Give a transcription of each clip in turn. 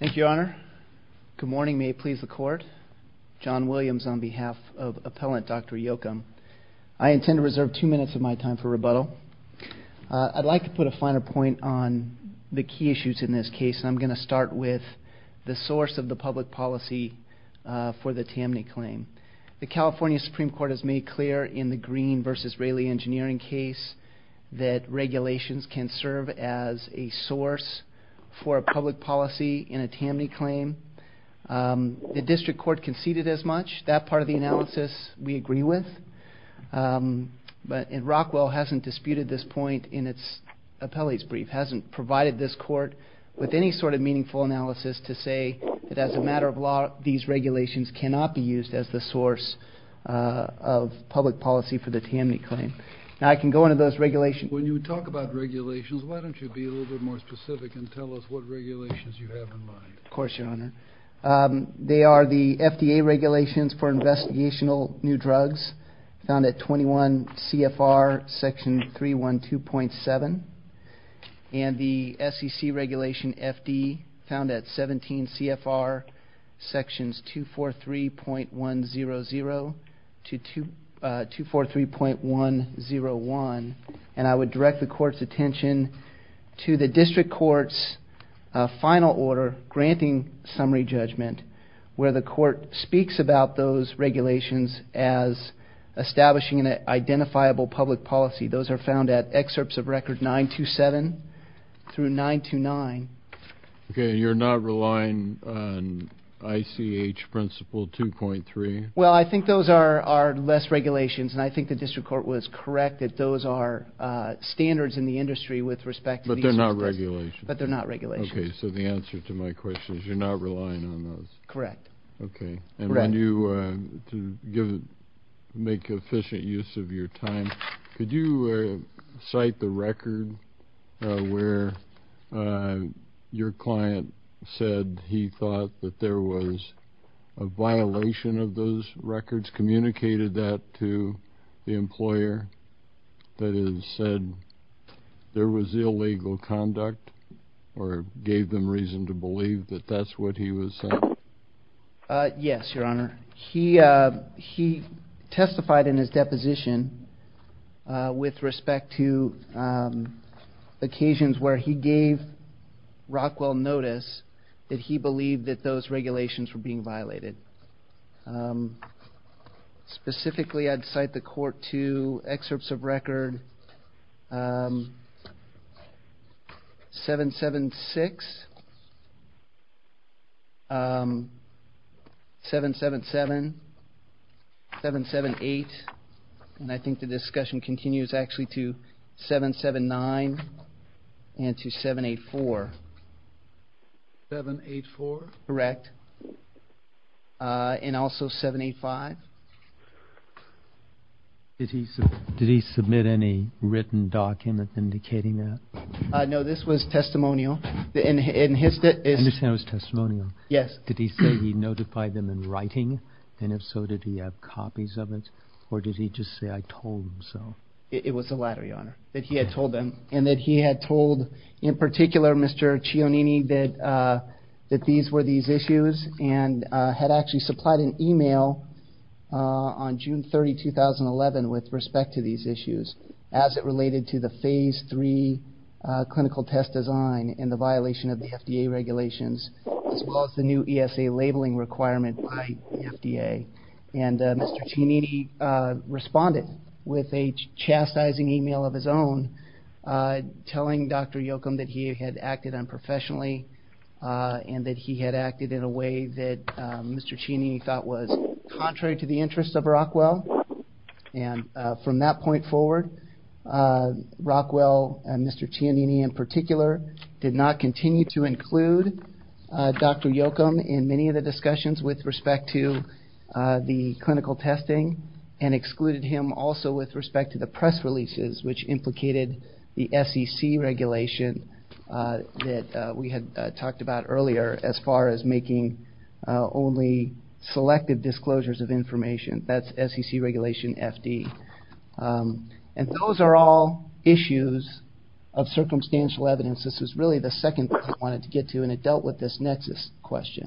Thank you, Your Honor. Good morning. May it please the Court. John Williams on behalf of Appellant Dr. Yocum. I intend to reserve two minutes of my time for rebuttal. I'd like to put a finer point on the key issues in this case, and I'm going to start with the source of the public policy for the TAMNI claim. The California Supreme Court has made clear in the Green v. Raley engineering case that regulations can serve as a source for public policy in a TAMNI claim. The District Court conceded as much. That part of the analysis we agree with. Rockwell hasn't disputed this point in its appellate's brief, hasn't provided this Court with any sort of meaningful analysis to say that as a matter of law, these regulations cannot be used as the source of public policy for the TAMNI claim. Now, I can go into those regulations. When you talk about regulations, why don't you be a little bit more specific and tell us what regulations you have in mind. Of course, Your Honor. They are the FDA regulations for investigational new drugs, found at 21 CFR section 312.7, and the SEC regulation FD, found at 17 CFR sections 243.100 to 243.101, and I would direct the Court's attention to the District Court's final order granting summary judgment, where the Court speaks about those regulations as establishing an identifiable public policy. Those are found at excerpts of record 927 through 929. Okay, and you're not relying on ICH principle 2.3? Well, I think those are less regulations, and I think the District Court was correct that those are standards in the industry with respect to these. But they're not regulations? But they're not regulations. Okay, so the answer to my question is you're not relying on those? Correct. Okay, and when you make efficient use of your time, could you cite the record where your client said he thought that there was a violation of those records, communicated that to the employer that has said there was illegal conduct, or gave them reason to believe that that's what he was saying? Yes, Your Honor. He testified in his deposition with respect to occasions where he gave Rockwell notice that he believed that those regulations were being I'd cite the court to excerpts of record 776, 777, 778, and I think the discussion continues actually to 779 and to 784. 784? Correct, and also 785. Did he submit any written document indicating that? No, this was testimonial. I understand it was testimonial. Yes. Did he say he notified them in writing, and if so, did he have copies of it, or did he just say I told him? It was the latter, Your Honor, that he had told them, and that he had told in particular Mr. Cionini that these were these issues, and had actually supplied an email on June 30, 2011, with respect to these issues as it related to the phase 3 clinical test design and the violation of the FDA regulations, as well as the new ESA labeling requirement by the FDA, and Mr. Cionini responded with a chastising email of his own telling Dr. Yochum that he had acted unprofessionally, and that he had acted in a way that Mr. Cionini thought was contrary to the interests of Rockwell, and from that point forward, Rockwell and Mr. Cionini in particular did not continue to include Dr. Yochum in many of the discussions with respect to the clinical testing, and excluded him also with respect to the press releases, which implicated the SEC regulation that we had talked about earlier, as far as making only selective disclosures of information. That's SEC regulation FD, and those are all issues of circumstantial evidence. This is really the second point I wanted to get to, and it dealt with this nexus question.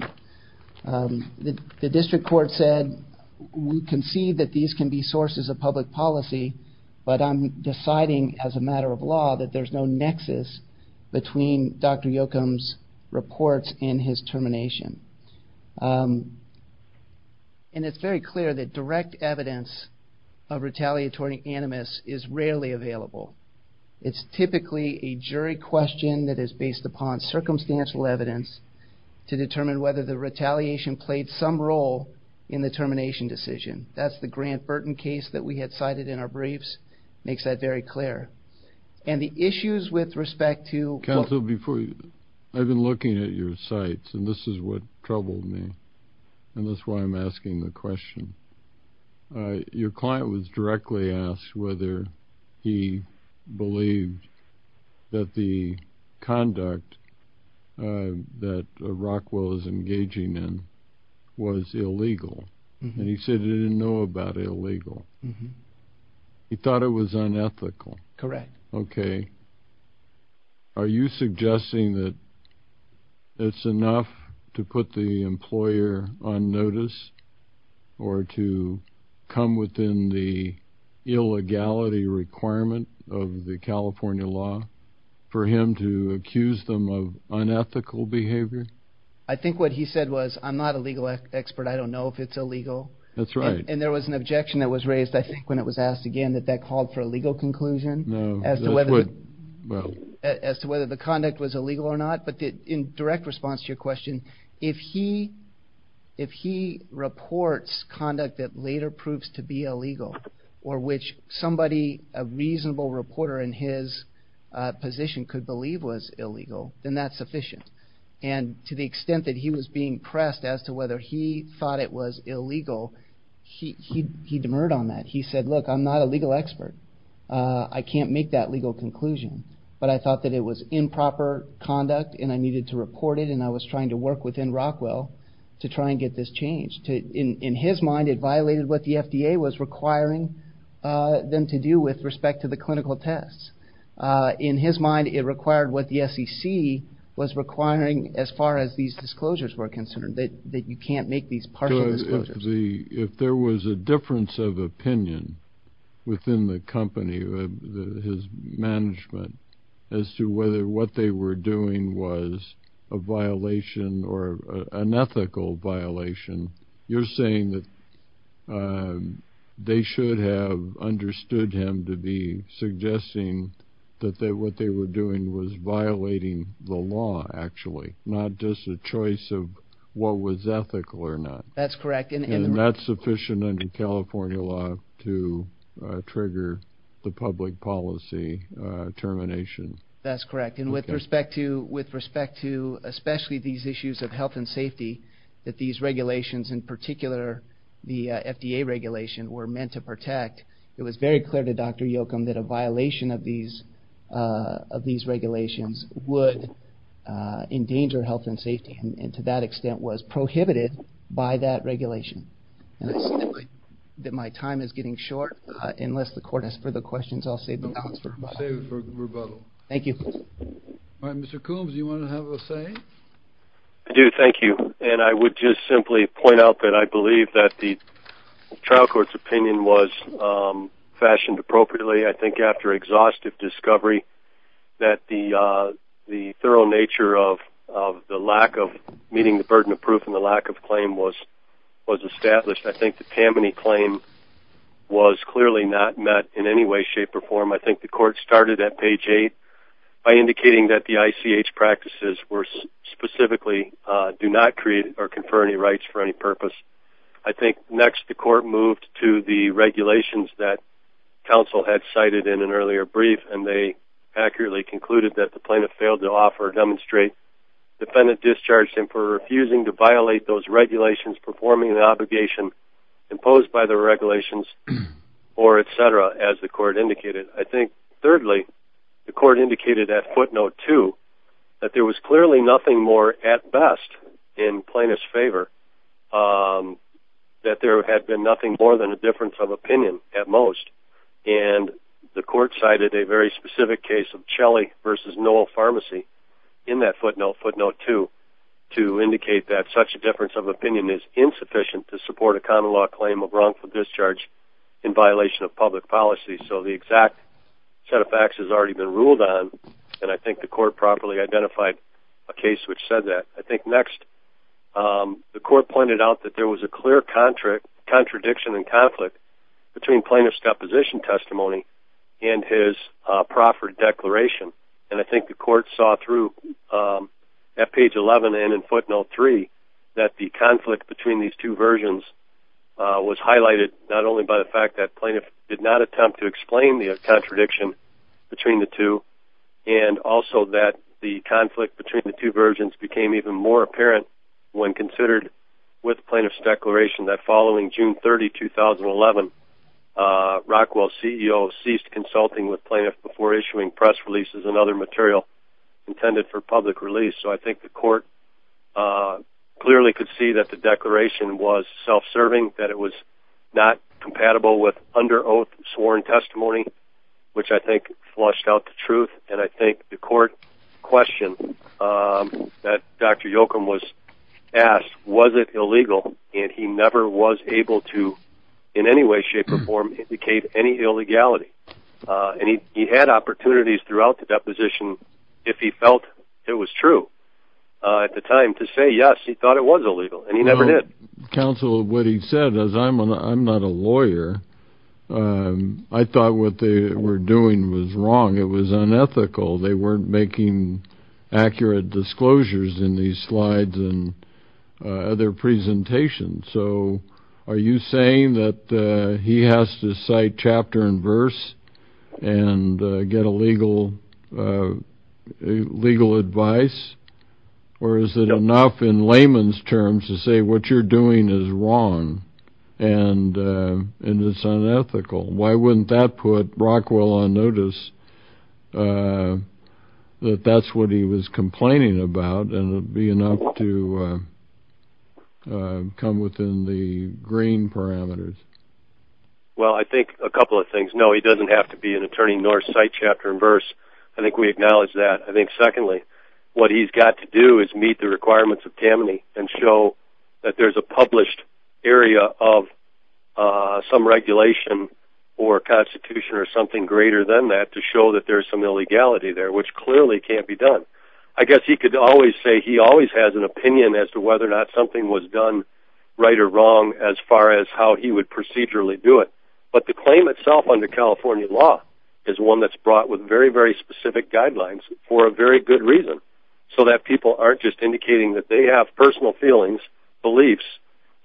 The district court said, we concede that these can be sources of public policy, but I'm deciding as a matter of law that there's no nexus between Dr. Yochum's reports and his termination, and it's very clear that direct evidence of retaliatory animus is rarely available. It's typically a jury question that is based upon circumstantial evidence to determine whether the retaliation played some role in the termination decision. That's the Grant Burton case that we had cited in our briefs, makes that very clear. And the issues with respect to... I've been looking at your sites, and this is what troubled me, and that's why I'm asking the question. Your client was directly asked whether he believed that the conduct that Rockwell is engaging in was illegal, and he said he didn't know about illegal. He thought it was unethical. Correct. Okay. Are you suggesting that it's enough to put the employer on notice, or to come within the illegality requirement of the California law for him to accuse them of unethical behavior? I think what he said was, I'm not a legal expert. I don't know if it's illegal. That's right. And there was an objection that was raised, I think, when it was asked again, that that called for a legal conclusion as to whether the conduct was illegal or not. But in direct response to your question, if he reports conduct that later proves to be illegal, or which somebody, a reasonable reporter in his position, could believe was illegal, then that's sufficient. And to the extent that he was being pressed as to whether he thought it was illegal, he demurred on that. He said, look, I'm not a legal expert. I can't make that legal conclusion. But I thought that it was improper conduct, and I needed to report it, and I was trying to work within Rockwell to try and get this changed. In his mind, it violated what the FDA was requiring them to do with respect to the clinical tests. In his mind, it required what the SEC was requiring as far as these disclosures were concerned, that you can't make these partial disclosures. If there was a difference of opinion within the company, his management, as to whether what they were doing was a violation or an ethical violation, you're saying that they should have understood him to be suggesting that what they were doing was violating the law, actually, not just a choice of what was ethical or not. That's correct. And that's sufficient under California law to trigger the public policy termination. That's correct. And with respect to, especially these issues of health and safety, that these regulations, in particular the FDA regulation, were meant to protect, it was very clear to Dr. Yochum that a violation of these regulations would endanger health and safety, and to that extent was prohibited by that regulation. And I see that my time is getting short. Unless the court has further questions, I'll save the balance for rebuttal. Thank you. All right. Mr. Coombs, do you want to have a say? I do. Thank you. And I would just simply point out that I believe that the trial court's opinion was fashioned appropriately, I think, after exhaustive discovery, that the thorough nature of the lack of meeting the burden of proof and the lack of claim was established. I think the Tammany claim was clearly not met in any way, shape, or form. I think the court started at page 8 by indicating that the ICH practices were specifically, do not create or confer any rights for any purpose. I think, next, the court moved to the regulations that counsel had cited in an earlier brief, and they accurately concluded that the plaintiff failed to offer or demonstrate defendant discharged him for refusing to violate those regulations, performing the obligation imposed by the regulations, or et cetera, as the court indicated. I think, thirdly, the court indicated at footnote 2 that there was clearly nothing more at best in plaintiff's favor, that there had been nothing more than a difference of opinion at most. And the court cited a very specific case of Chelley v. Noel Pharmacy in that footnote, footnote 2, to indicate that such a difference of opinion is insufficient to support a common law claim of wrongful discharge in violation of public policy. So the exact set of facts has already been ruled on, and I think the court properly identified a case which said that. I think, next, the court pointed out that there was a clear contradiction and conflict between plaintiff's deposition testimony and his proffered declaration. And I think the court saw through at page 11 and in footnote 3 that the conflict between these two versions was highlighted not only by the fact that plaintiff did not attempt to explain the contradiction between the two, and also that the conflict between the two versions became even more apparent when considered with plaintiff's declaration that following June 30, 2011, Rockwell's CEO ceased consulting with plaintiffs before issuing press releases and other material intended for public release. So I think the court clearly could see that the declaration was self-serving, that it was not compatible with under oath sworn testimony, which I think flushed out the truth. And I think the court questioned that Dr. Yoakum was asked, was it illegal? And he never was able to in any way, shape, or form indicate any illegality. And he had opportunities throughout the deposition if he felt it was true. At the time, to say yes, he thought it was illegal, and he never did. Counsel, what he said, as I'm not a lawyer, I thought what they were doing was wrong. It was unethical. They weren't making accurate disclosures in these slides and other presentations. So are you saying that he has to cite chapter and verse and get legal advice? Or is it enough in layman's terms to say what you're doing is wrong and it's unethical? Why wouldn't that put Rockwell on notice that that's what he was complaining about and it would be enough to come within the green parameters? Well, I think a couple of things. No, he doesn't have to be an attorney nor cite chapter and verse. I think we acknowledge that. What he's got to do is meet the requirements of Tammany and show that there's a published area of some regulation or constitution or something greater than that to show that there's some illegality there, which clearly can't be done. I guess he could always say he always has an opinion as to whether or not something was done right or wrong as far as how he would procedurally do it. But the claim itself under California law is one that's brought with very, very specific guidelines for a very good reason, so that people aren't just indicating that they have personal feelings, beliefs,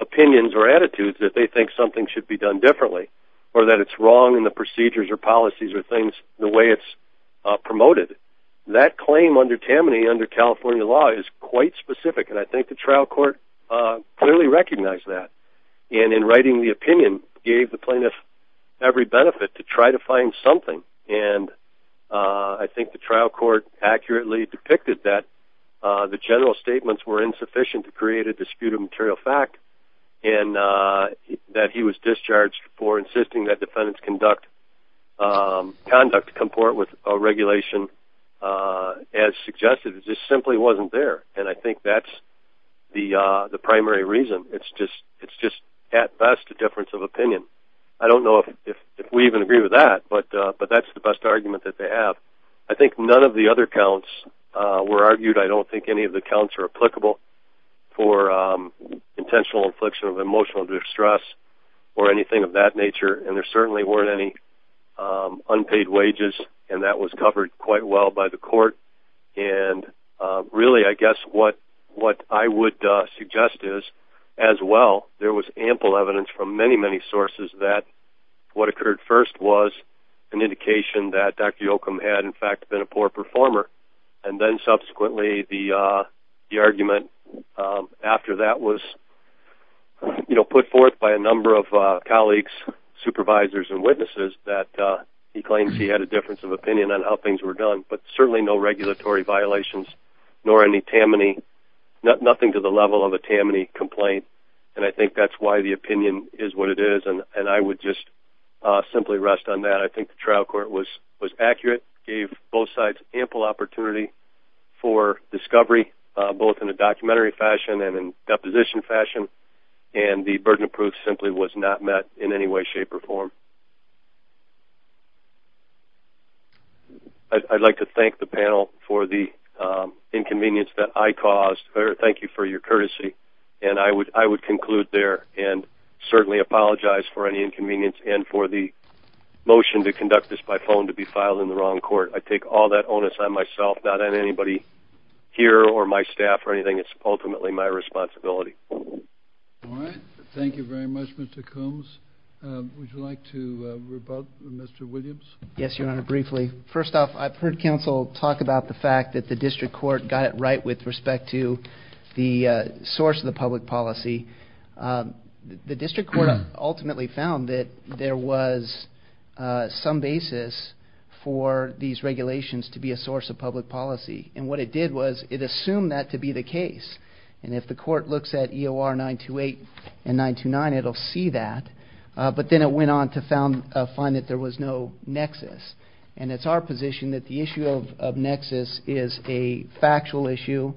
opinions, or attitudes that they think something should be done differently or that it's wrong in the procedures or policies or things the way it's promoted. That claim under Tammany under California law is quite specific, and I think the trial court clearly recognized that. In writing the opinion gave the plaintiff every benefit to try to find something, and I think the trial court accurately depicted that the general statements were insufficient to create a dispute of material fact and that he was discharged for insisting that defendants conduct comport with a regulation as suggested. It just simply wasn't there, and I think that's the primary reason. It's just at best a difference of opinion. I don't know if we even agree with that, but that's the best argument that they have. I think none of the other counts were argued. I don't think any of the counts are applicable for intentional infliction of emotional distress or anything of that nature, and there certainly weren't any unpaid wages, and that was covered quite well by the court. Really, I guess what I would suggest is as well there was ample evidence from many, many sources that what occurred first was an indication that Dr. Yoakum had in fact been a poor performer, and then subsequently the argument after that was put forth by a number of colleagues, supervisors, and witnesses that he claims he had a difference of opinion on how things were done, but certainly no regulatory violations nor anything to the level of a Tammany complaint, and I think that's why the opinion is what it is, and I would just simply rest on that. I think the trial court was accurate, gave both sides ample opportunity for discovery, both in a documentary fashion and in deposition fashion, and the burden of proof simply was not met in any way, shape, or form. I'd like to thank the panel for the inconvenience that I caused. Thank you for your courtesy, and I would conclude there and certainly apologize for any inconvenience and for the motion to conduct this by phone to be filed in the wrong court. I take all that onus on myself, not on anybody here or my staff or anything. It's ultimately my responsibility. All right. Thank you very much, Mr. Coombs. Would you like to rebut, Mr. Williams? Yes, Your Honor, briefly. First off, I've heard counsel talk about the fact that the district court got it right with respect to the source of the public policy. The district court ultimately found that there was some basis for these regulations to be a source of public policy, and what it did was it assumed that to be the case, and if the court looks at EOR 928 and 929, it will see that, but then it went on to find that there was no nexus, and it's our position that the issue of nexus is a factual issue.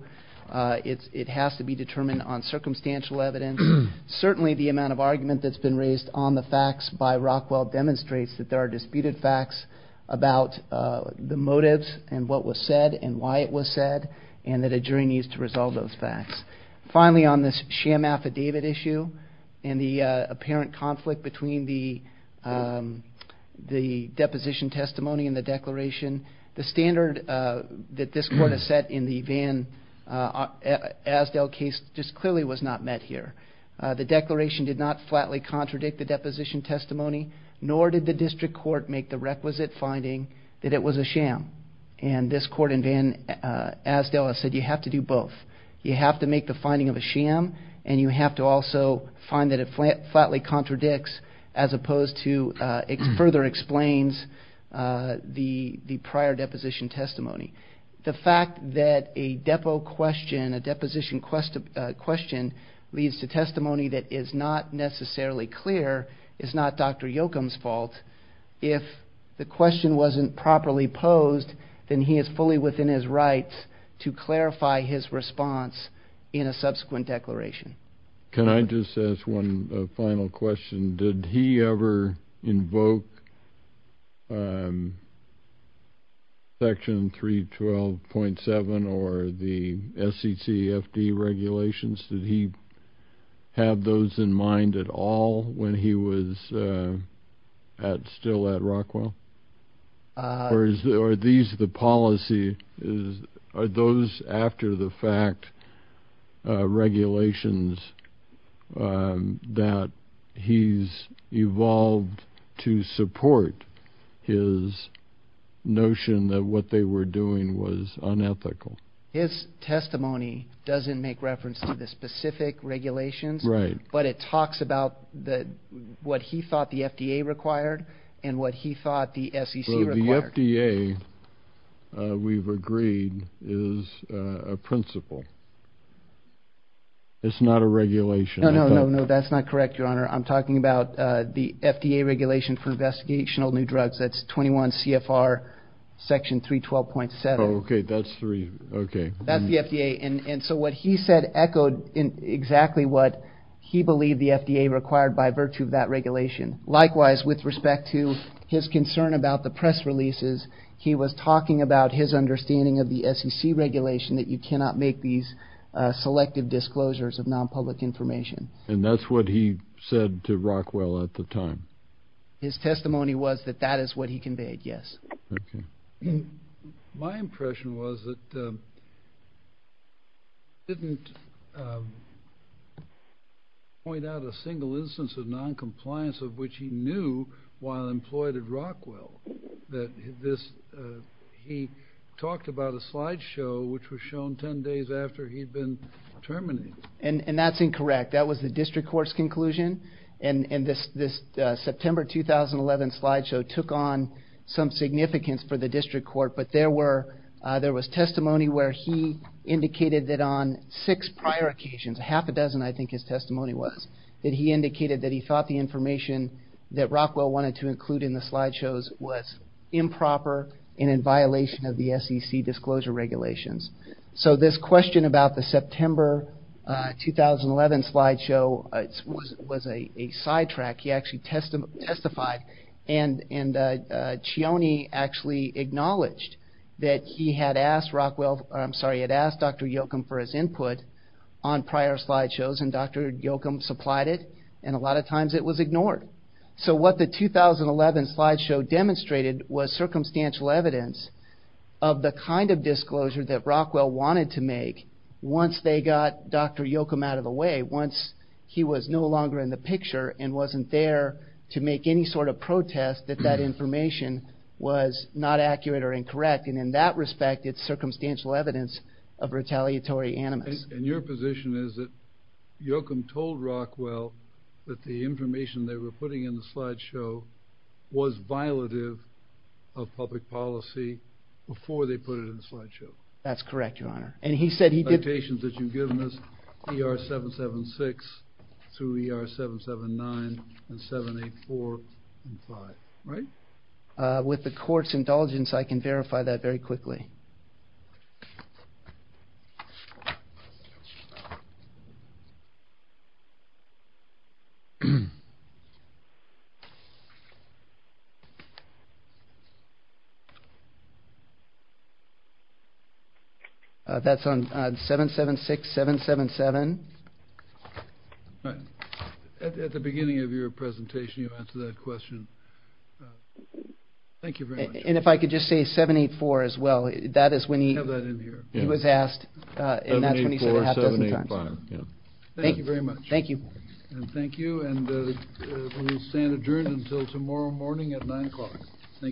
It has to be determined on circumstantial evidence. Certainly the amount of argument that's been raised on the facts by Rockwell demonstrates that there are disputed facts about the motives and what was said and why it was said, and that a jury needs to resolve those facts. Finally, on this sham affidavit issue and the apparent conflict between the deposition testimony and the declaration, the standard that this court has set in the Van Asdale case just clearly was not met here. The declaration did not flatly contradict the deposition testimony, nor did the district court make the requisite finding that it was a sham, and this court in Van Asdale has said you have to do both. You have to make the finding of a sham, and you have to also find that it flatly contradicts as opposed to further explains the prior deposition testimony. The fact that a depo question, a deposition question, leads to testimony that is not necessarily clear is not Dr. Yocum's fault. If the question wasn't properly posed, then he is fully within his rights to clarify his response in a subsequent declaration. Can I just ask one final question? Did he ever invoke Section 312.7 or the SEC FD regulations? Did he have those in mind at all when he was still at Rockwell? Or are these the policy? Are those after the fact regulations that he's evolved to support his notion that what they were doing was unethical? His testimony doesn't make reference to the specific regulations, but it talks about what he thought the FDA required and what he thought the SEC required. The FDA, we've agreed, is a principle. It's not a regulation. No, no, no, that's not correct, Your Honor. I'm talking about the FDA regulation for investigational new drugs. That's 21 CFR Section 312.7. Okay, that's three. That's the FDA. And so what he said echoed exactly what he believed the FDA required by virtue of that regulation. Likewise, with respect to his concern about the press releases, he was talking about his understanding of the SEC regulation, that you cannot make these selective disclosures of nonpublic information. And that's what he said to Rockwell at the time. His testimony was that that is what he conveyed, yes. My impression was that he didn't point out a single instance of noncompliance of which he knew while employed at Rockwell, that he talked about a slide show which was shown 10 days after he'd been terminated. And that's incorrect. That was the district court's conclusion, and this September 2011 slide show took on some significance for the district court, but there was testimony where he indicated that on six prior occasions, half a dozen I think his testimony was, that he indicated that he thought the information that Rockwell wanted to include in the slide shows was improper and in violation of the SEC disclosure regulations. So this question about the September 2011 slide show was a sidetrack. He actually testified, and Chione actually acknowledged that he had asked Dr. Yocum for his input on prior slide shows, and Dr. Yocum supplied it, and a lot of times it was ignored. So what the 2011 slide show demonstrated was circumstantial evidence of the kind of disclosure that Rockwell wanted to make once they got Dr. Yocum out of the way, once he was no longer in the picture and wasn't there to make any sort of protest that that information was not accurate or incorrect, and in that respect it's circumstantial evidence of retaliatory animus. And your position is that Yocum told Rockwell that the information they were putting in the slide show was violative of public policy before they put it in the slide show? That's correct, Your Honor. And he said he did... Notations that you've given us, ER-776 through ER-779 and 784 and 5, right? With the court's indulgence, I can verify that very quickly. That's on 776-777. All right. At the beginning of your presentation, you answered that question. Thank you very much. And if I could just say 784 as well. That is when he... Have that in here. He was asked, and that's when he said it a half dozen times. 784, 785, yeah. Thank you very much. Thank you. And thank you, and we will stand adjourned until tomorrow morning at 9 o'clock.